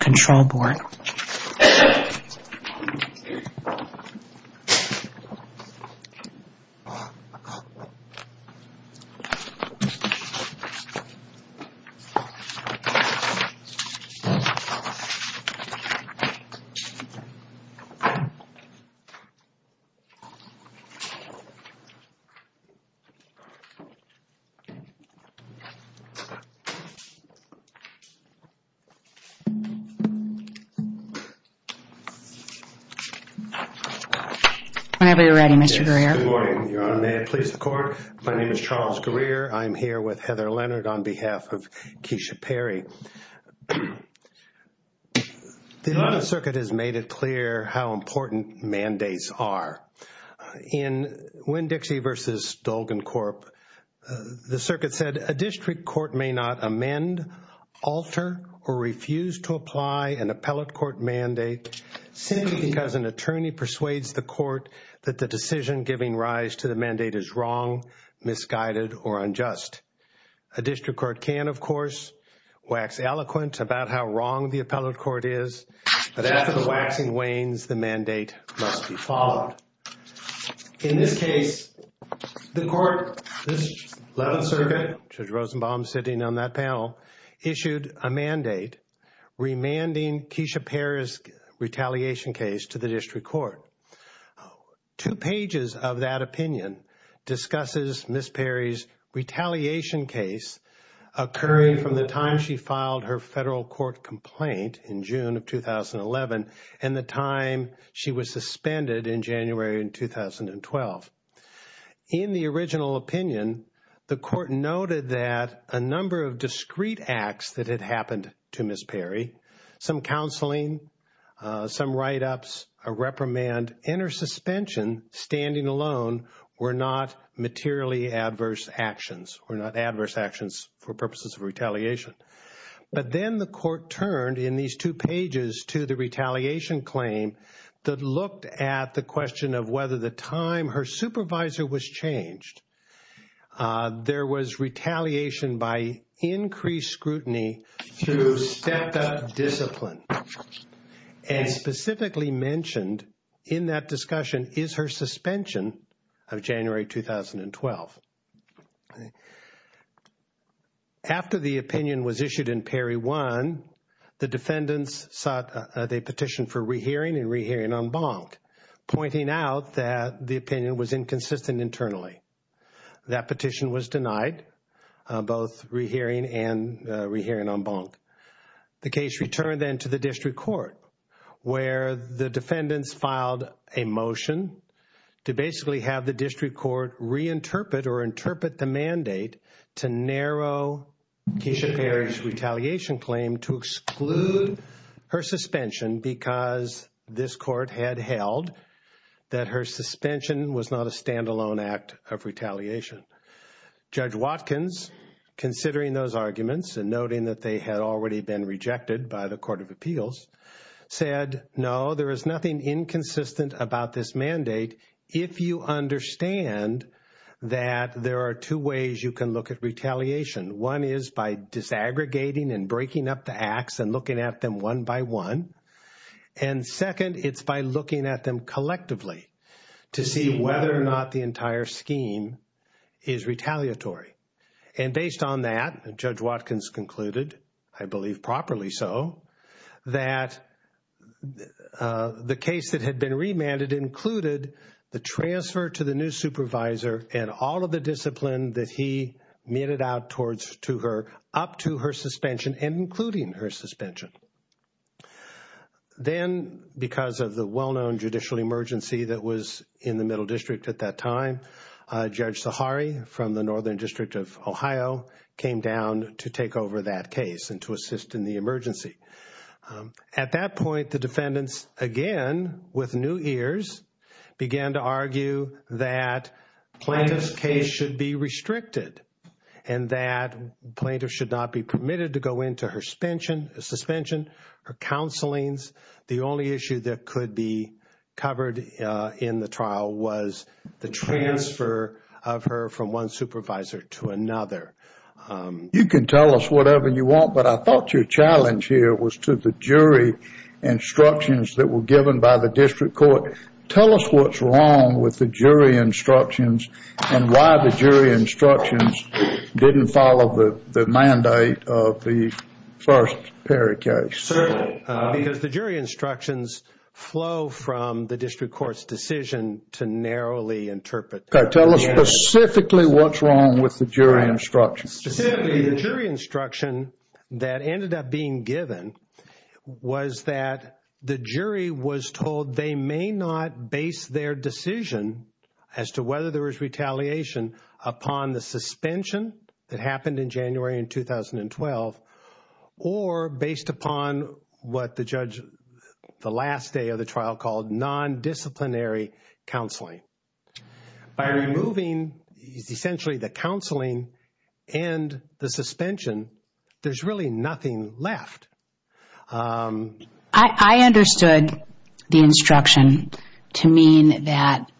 Control Board Charles Greer. I'm here with Heather Leonard on behalf of Kesia Perry. The circuit has made it clear how important mandates are. In Winn-Dixie v. Dolgan Corp, the circuit said, a district court may not amend, alter, or refuse to apply for a prescription for a prescription for alcohol. A district court cannot apply an appellate court mandate simply because an attorney persuades the court that the decision giving rise to the mandate is wrong, misguided, or unjust. A district court can, of course, wax eloquent about how wrong the appellate court is, but after the waxing wanes, the mandate must be followed. In this case, the court, the 11th Circuit, Judge Rosenbaum sitting on that panel, issued a mandate remanding Kesia Perry's retaliation case to the district court. Two pages of that opinion discusses Ms. Perry's retaliation case occurring from the time she filed her federal court complaint in June of 2011 and the time she was suspended in January of 2012. In the original opinion, the court noted that a number of discrete acts that had happened to Ms. Perry, some counseling, some write-ups, a reprimand, and her suspension, standing alone, were not materially adverse actions or not adverse actions for purposes of retaliation. But then the court turned in these two pages to the retaliation claim that looked at the question of whether the time her supervisor was changed. There was retaliation by increased scrutiny through stepped-up discipline and specifically mentioned in that discussion is her suspension of January 2012. After the opinion was issued in Perry 1, the defendants sought a petition for rehearing and rehearing en banc, pointing out that the opinion was inconsistent internally. That petition was denied, both rehearing and rehearing en banc. The case returned then to the district court, where the defendants filed a motion to basically have the district court reinterpret or interpret the mandate to narrow Kesia Perry's retaliation claim to exclude her suspension because this court had held that her suspension was not a stand-alone act of retaliation. Judge Watkins, considering those arguments and noting that they had already been rejected by the Court of Appeals, said, no, there is nothing inconsistent about this mandate if you understand that there are two ways you can look at retaliation. One is by disaggregating and breaking up the acts and looking at them one by one, and second, it's by looking at them collectively to see whether or not the entire scheme is retaliatory. And based on that, Judge Watkins concluded, I believe properly so, that the case that had been remanded included the transfer to the new supervisor and all of the discipline that he meted out up to her suspension and including her suspension. Then, because of the well-known judicial emergency that was in the Middle District at that time, Judge Sahari from the Northern District of Ohio came down to take over that case and to assist in the emergency. At that point, the defendants, again with new ears, began to argue that Plaintiff's case should be restricted and that Plaintiff should not be permitted to go into her suspension, her counselings. The only issue that could be covered in the trial was the transfer of her from one supervisor to another. You can tell us whatever you want, but I thought your challenge here was to the jury instructions that were given by the district court. Tell us what's wrong with the jury instructions and why the jury instructions didn't follow the mandate of the first Perry case. Certainly, because the jury instructions flow from the district court's decision to narrowly interpret. Tell us specifically what's wrong with the jury instructions. Specifically, the jury instruction that ended up being given was that the jury was told they may not base their decision as to whether there was retaliation upon the suspension that happened in January in 2012 or based upon what the judge, the last day of the trial, called non-disciplinary counseling. By removing essentially the counseling and the suspension, there's really nothing left. I understood the instruction to mean that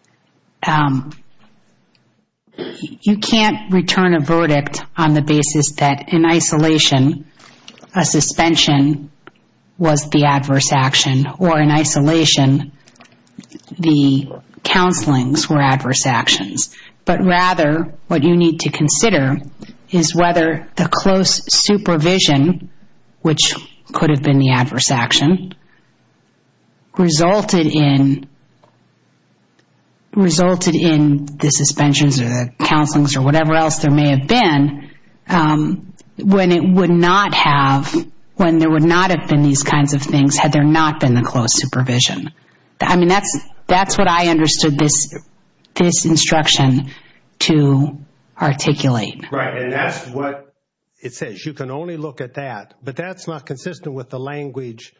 you can't return a verdict on the basis that in isolation a suspension was the adverse action or in isolation the counselings were adverse actions. Rather, what you need to consider is whether the close supervision, which could have been the adverse action, resulted in the suspensions or the counselings or whatever else there may have been when there would not have been these kinds of things had there not been the close supervision. That's what I understood this instruction to articulate. Right, and that's what it says. You can only look at that, but that's not consistent with the language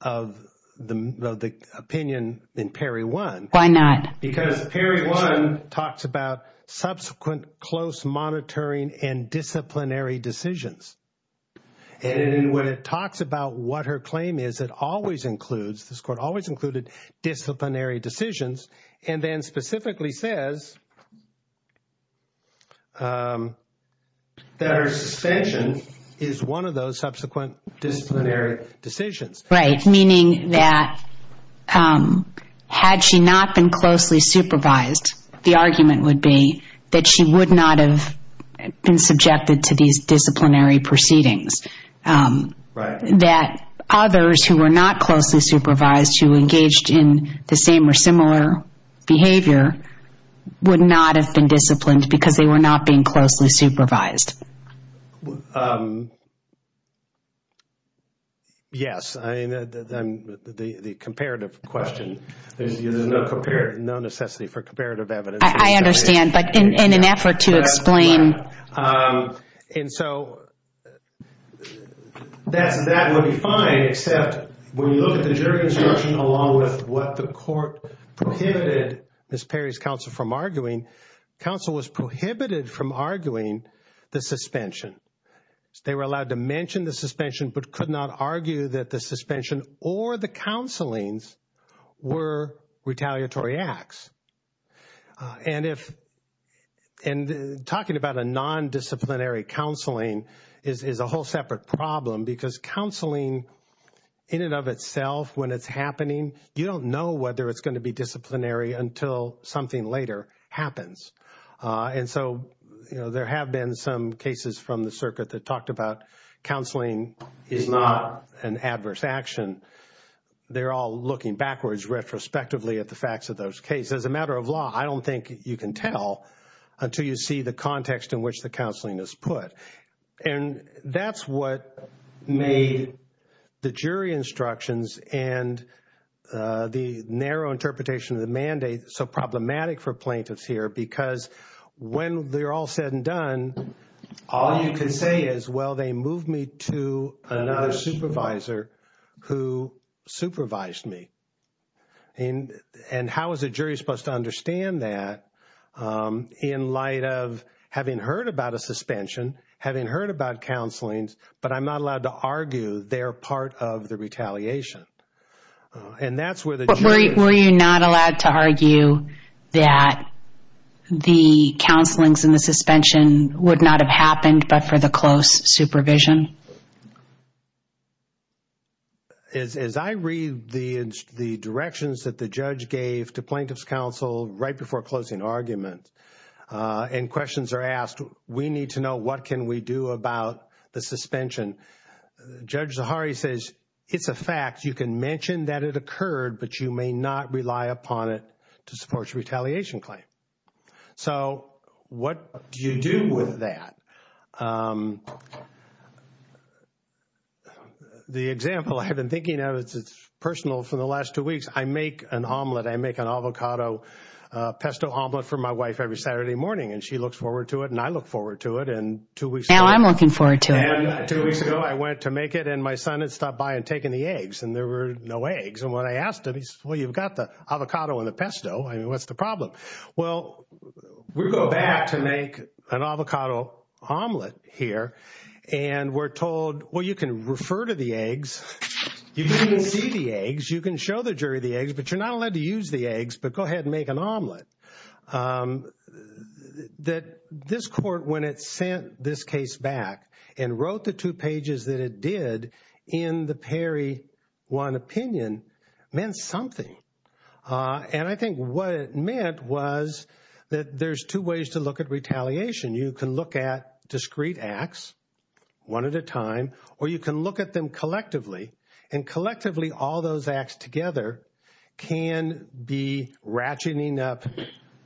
of the opinion in Perry 1. Why not? Because Perry 1 talks about subsequent close monitoring and disciplinary decisions. And when it talks about what her claim is, it always includes disciplinary decisions and then specifically says that her suspension is one of those subsequent disciplinary decisions. Right, meaning that had she not been closely supervised, the argument would be that she would not have been subjected to these disciplinary proceedings. Right. That others who were not closely supervised, who engaged in the same or similar behavior, would not have been disciplined because they were not being closely supervised. Yes, the comparative question. There's no necessity for comparative evidence. I understand, but in an effort to explain. And so that would be fine, except when you look at the jury instruction along with what the court prohibited Ms. Perry's counsel from arguing, counsel was prohibited from arguing the suspension. They were allowed to mention the suspension but could not argue that the suspension or the counselings were retaliatory acts. And talking about a non-disciplinary counseling is a whole separate problem because counseling in and of itself, when it's happening, you don't know whether it's going to be disciplinary until something later happens. And so, you know, there have been some cases from the circuit that talked about counseling is not an adverse action. They're all looking backwards retrospectively at the facts of those cases. As a matter of law, I don't think you can tell until you see the context in which the counseling is put. And that's what made the jury instructions and the narrow interpretation of the mandate so problematic for plaintiffs here. Because when they're all said and done, all you can say is, well, they moved me to another supervisor who supervised me. And how is a jury supposed to understand that in light of having heard about a suspension, having heard about counselings, but I'm not allowed to argue they're part of the retaliation? Were you not allowed to argue that the counselings and the suspension would not have happened but for the close supervision? As I read the directions that the judge gave to plaintiff's counsel right before closing argument and questions are asked, we need to know what can we do about the suspension. Judge Zahari says, it's a fact. You can mention that it occurred, but you may not rely upon it to support your retaliation claim. So what do you do with that? The example I have been thinking of, it's personal, for the last two weeks, I make an omelet, I make an avocado pesto omelet for my wife every Saturday morning. And she looks forward to it and I look forward to it. Now I'm looking forward to it. Two weeks ago, I went to make it and my son had stopped by and taken the eggs and there were no eggs. And when I asked him, he said, well, you've got the avocado and the pesto. I mean, what's the problem? Well, we go back to make an avocado omelet here and we're told, well, you can refer to the eggs, you can see the eggs, you can show the jury the eggs, but you're not allowed to use the eggs, but go ahead and make an omelet. That this court, when it sent this case back and wrote the two pages that it did in the Perry one opinion, meant something. And I think what it meant was that there's two ways to look at retaliation. You can look at discrete acts, one at a time, or you can look at them collectively. And collectively, all those acts together can be ratcheting up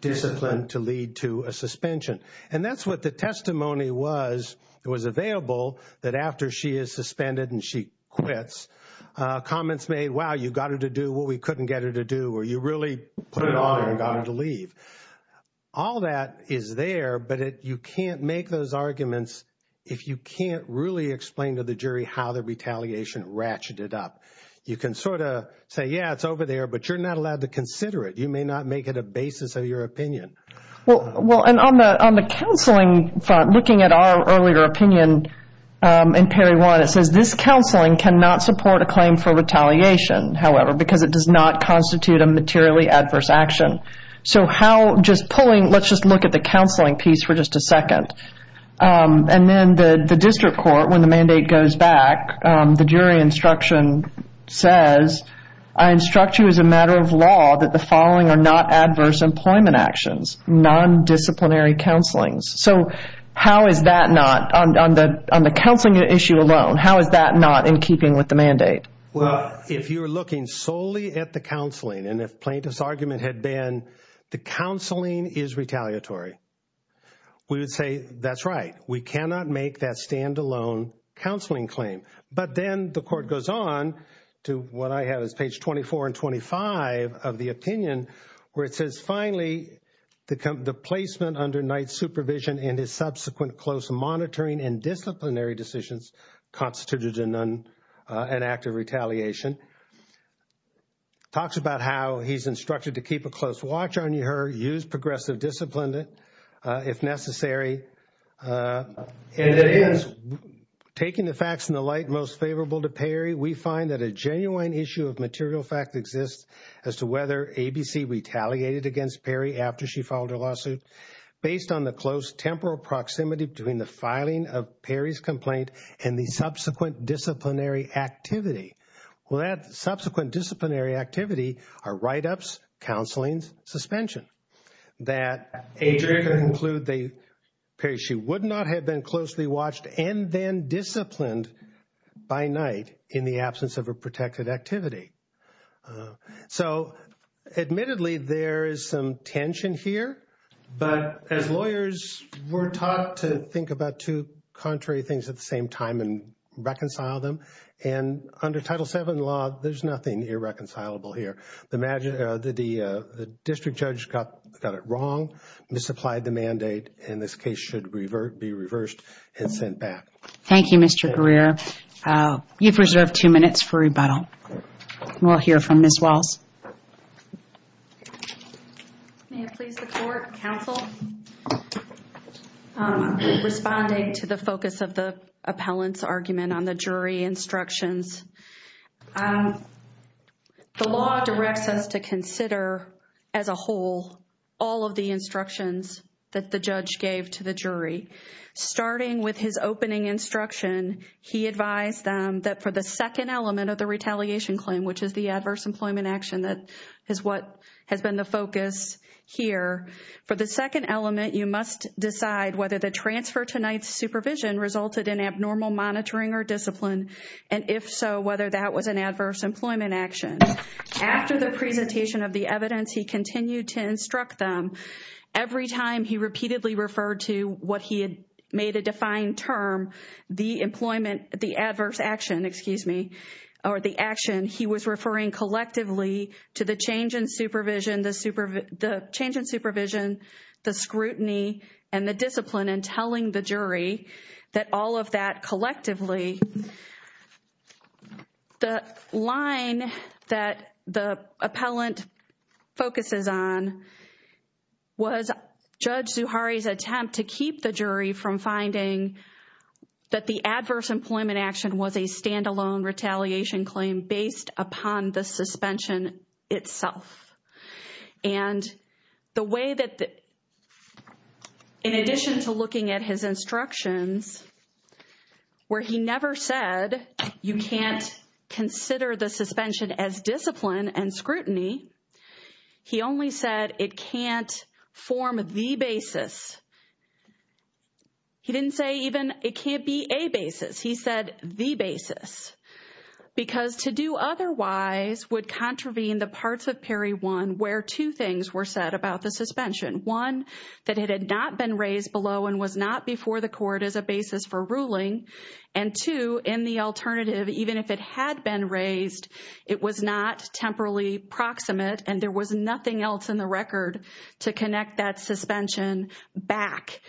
discipline to lead to a suspension. And that's what the testimony was. It was available that after she is suspended and she quits, comments made, wow, you got her to do what we couldn't get her to do, or you really put it on and got her to leave. All that is there, but you can't make those arguments if you can't really explain to the jury how the retaliation ratcheted up. You can sort of say, yeah, it's over there, but you're not allowed to consider it. You may not make it a basis of your opinion. Well, and on the counseling front, looking at our earlier opinion in Perry one, it says, this counseling cannot support a claim for retaliation, however, because it does not constitute a materially adverse action. So how, just pulling, let's just look at the counseling piece for just a second. And then the district court, when the mandate goes back, the jury instruction says, I instruct you as a matter of law that the following are not adverse employment actions, non-disciplinary counselings. So how is that not, on the counseling issue alone, how is that not in keeping with the mandate? Well, if you're looking solely at the counseling and if plaintiff's argument had been the counseling is retaliatory, we would say, that's right. We cannot make that standalone counseling claim. But then the court goes on to what I have is page 24 and 25 of the opinion where it says, finally, the placement under Knight's supervision and his subsequent close monitoring and disciplinary decisions constituted an act of retaliation. Talks about how he's instructed to keep a close watch on her, use progressive discipline if necessary. And it is taking the facts in the light most favorable to Perry. We find that a genuine issue of material fact exists as to whether ABC retaliated against Perry after she filed her lawsuit. Based on the close temporal proximity between the filing of Perry's complaint and the subsequent disciplinary activity. Well, that subsequent disciplinary activity are write-ups, counseling, suspension. That Adrian could include Perry. She would not have been closely watched and then disciplined by Knight in the absence of a protected activity. So admittedly, there is some tension here. But as lawyers, we're taught to think about two contrary things at the same time and reconcile them. And under Title VII law, there's nothing irreconcilable here. The district judge got it wrong, misapplied the mandate, and this case should be reversed and sent back. Thank you, Mr. Greer. You've reserved two minutes for rebuttal. We'll hear from Ms. Walz. May it please the Court, Counsel. Responding to the focus of the appellant's argument on the jury instructions. The law directs us to consider as a whole all of the instructions that the judge gave to the jury. Starting with his opening instruction, he advised them that for the second element of the retaliation claim, which is the adverse employment action that is what has been the focus here. For the second element, you must decide whether the transfer to Knight's supervision resulted in abnormal monitoring or discipline. And if so, whether that was an adverse employment action. After the presentation of the evidence, he continued to instruct them. Every time he repeatedly referred to what he had made a defined term, the employment, the adverse action, excuse me, or the action, he was referring collectively to the change in supervision, the change in supervision, the scrutiny, and the discipline. And telling the jury that all of that collectively. The line that the appellant focuses on was Judge Zuhari's attempt to keep the jury from finding that the adverse employment action was a standalone retaliation claim based upon the suspension itself. And the way that, in addition to looking at his instructions where he never said you can't consider the suspension as discipline and scrutiny, he only said it can't form the basis. He didn't say even it can't be a basis. He said the basis. Because to do otherwise would contravene the parts of Perry 1 where two things were said about the suspension. One, that it had not been raised below and was not before the court as a basis for ruling. And two, in the alternative, even if it had been raised, it was not temporally proximate and there was nothing else in the record to connect that suspension back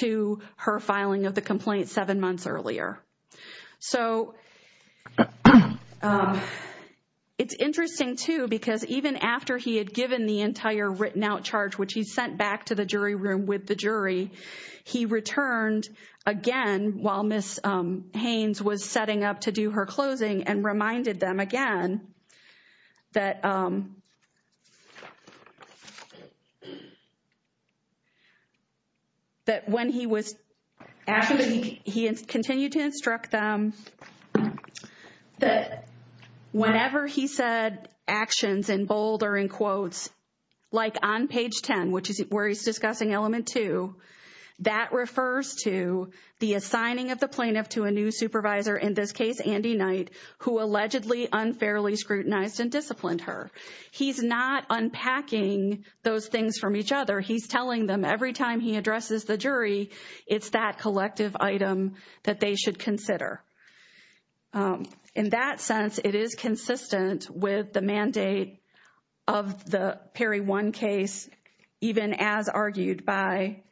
to her filing of the complaint seven months earlier. So, it's interesting too because even after he had given the entire written out charge, which he sent back to the jury room with the jury, he returned again while Ms. Haynes was setting up to do her closing and reminded them again that when he was, he continued to instruct them that whenever he said actions in bold or in quotes, like on page 10, which is where he's discussing element two, that refers to the assigning of the plaintiff to a new supervisor, in this case, Andy Knight, who allegedly unfairly scrutinized and disciplined her. He's not unpacking those things from each other. He's telling them every time he addresses the jury, it's that collective item that they should consider. In that sense, it is consistent with the mandate of the Perry 1 case, even as argued by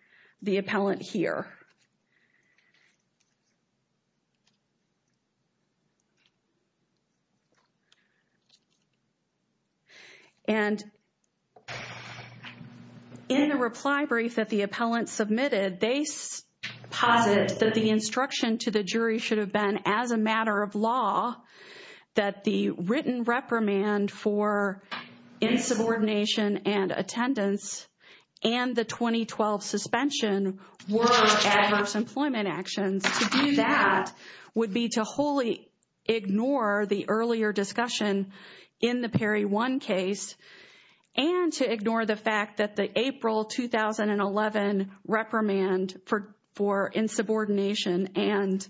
the appellant here. And in the reply brief that the appellant submitted, they posit that the instruction to the jury should have been as a matter of law, that the written reprimand for insubordination and attendance and the 2012 suspension were adverse employment actions. To do that would be to wholly ignore the earlier discussion in the Perry 1 case and to ignore the fact that the April 2011 reprimand for insubordination and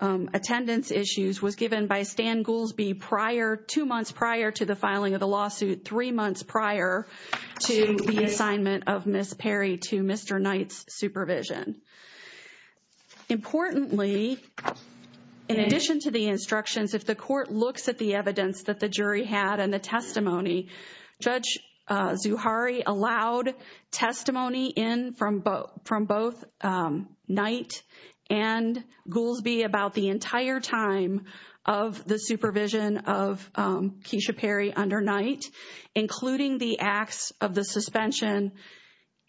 attendance issues was given by Stan Goolsbee prior, two months prior to the filing of the lawsuit, three months prior to the assignment of Ms. Perry to Mr. Knight's supervision. Importantly, in addition to the instructions, if the court looks at the evidence that the jury had and the testimony, Judge Zuhari allowed testimony in from both Knight and Goolsbee about the entire time of the supervision of Keisha Perry under Knight, including the acts of the suspension,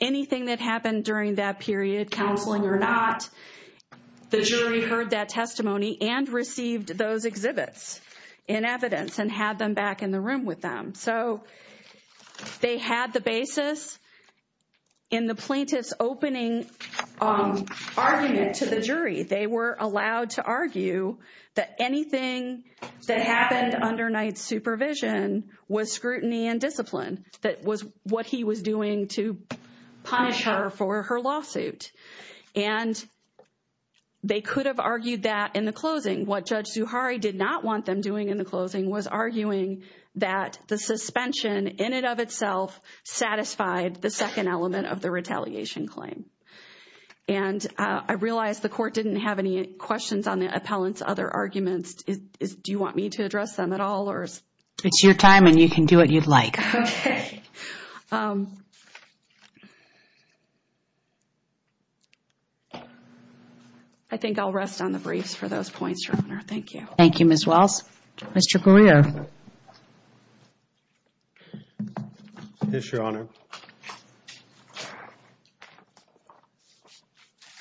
anything that happened during that period, counseling or not, the jury heard that testimony and received those exhibits in evidence and had them back in the room with them. So they had the basis in the plaintiff's opening argument to the jury. They were allowed to argue that anything that happened under Knight's supervision was scrutiny and discipline. That was what he was doing to punish her for her lawsuit. And they could have argued that in the closing. What Judge Zuhari did not want them doing in the closing was arguing that the suspension in and of itself satisfied the second element of the retaliation claim. And I realize the court didn't have any questions on the appellant's other arguments. Do you want me to address them at all? It's your time and you can do what you'd like. Okay. I think I'll rest on the briefs for those points, Your Honor. Thank you. Thank you, Ms. Wells. Mr. Greer. Yes, Your Honor.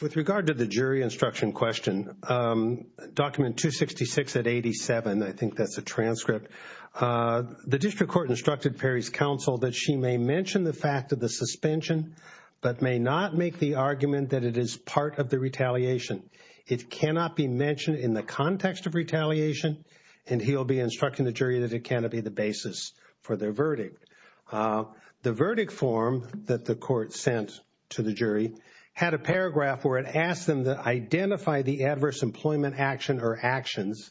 With regard to the jury instruction question, document 266 at 87, I think that's a transcript. The district court instructed Perry's counsel that she may mention the fact of the suspension, but may not make the argument that it is part of the retaliation. It cannot be mentioned in the context of retaliation. And he'll be instructing the jury that it cannot be the basis for their verdict. The verdict form that the court sent to the jury had a paragraph where it asked them to identify the adverse employment action or actions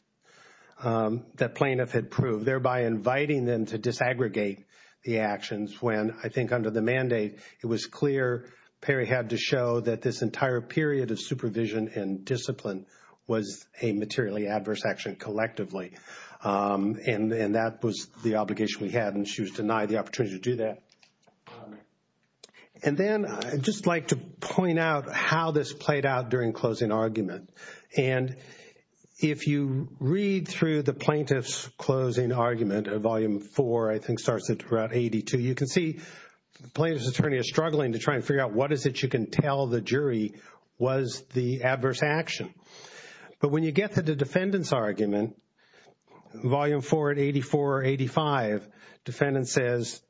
that plaintiff had proved, thereby inviting them to disaggregate the actions when, I think under the mandate, it was clear Perry had to show that this entire period of supervision and discipline was a materially adverse action collectively. And that was the obligation we had, and she was denied the opportunity to do that. And then I'd just like to point out how this played out during closing argument. And if you read through the plaintiff's closing argument at Volume 4, I think starts at Route 82, you can see the plaintiff's attorney is struggling to try and figure out what is it you can tell the jury was the adverse action. But when you get to the defendant's argument, Volume 4 at 84 or 85, defendant says,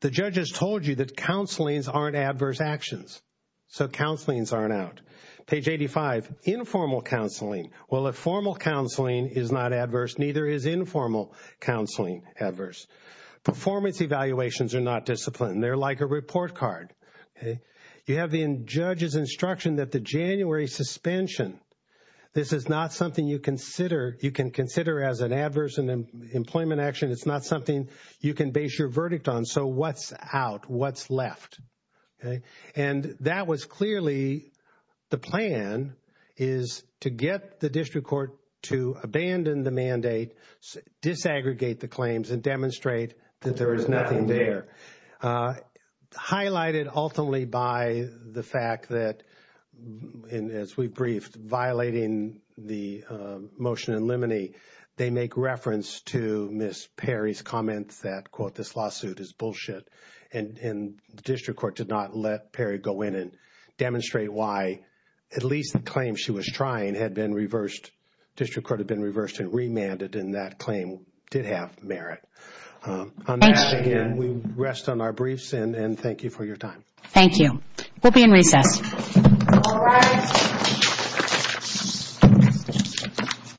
the judge has told you that counselings aren't adverse actions, so counselings aren't out. Page 85, informal counseling. Well, if formal counseling is not adverse, neither is informal counseling adverse. Performance evaluations are not disciplined. They're like a report card. You have the judge's instruction that the January suspension, this is not something you can consider as an adverse employment action. It's not something you can base your verdict on. So what's out? What's left? And that was clearly the plan is to get the district court to abandon the mandate, disaggregate the claims, and demonstrate that there is nothing there. Highlighted ultimately by the fact that, as we briefed, violating the motion in limine, they make reference to Ms. Perry's comment that, quote, this lawsuit is bullshit. And the district court did not let Perry go in and demonstrate why at least the claim she was trying had been reversed. District court had been reversed and remanded, and that claim did have merit. On that, again, we rest on our briefs, and thank you for your time. Thank you. We'll be in recess. All rise.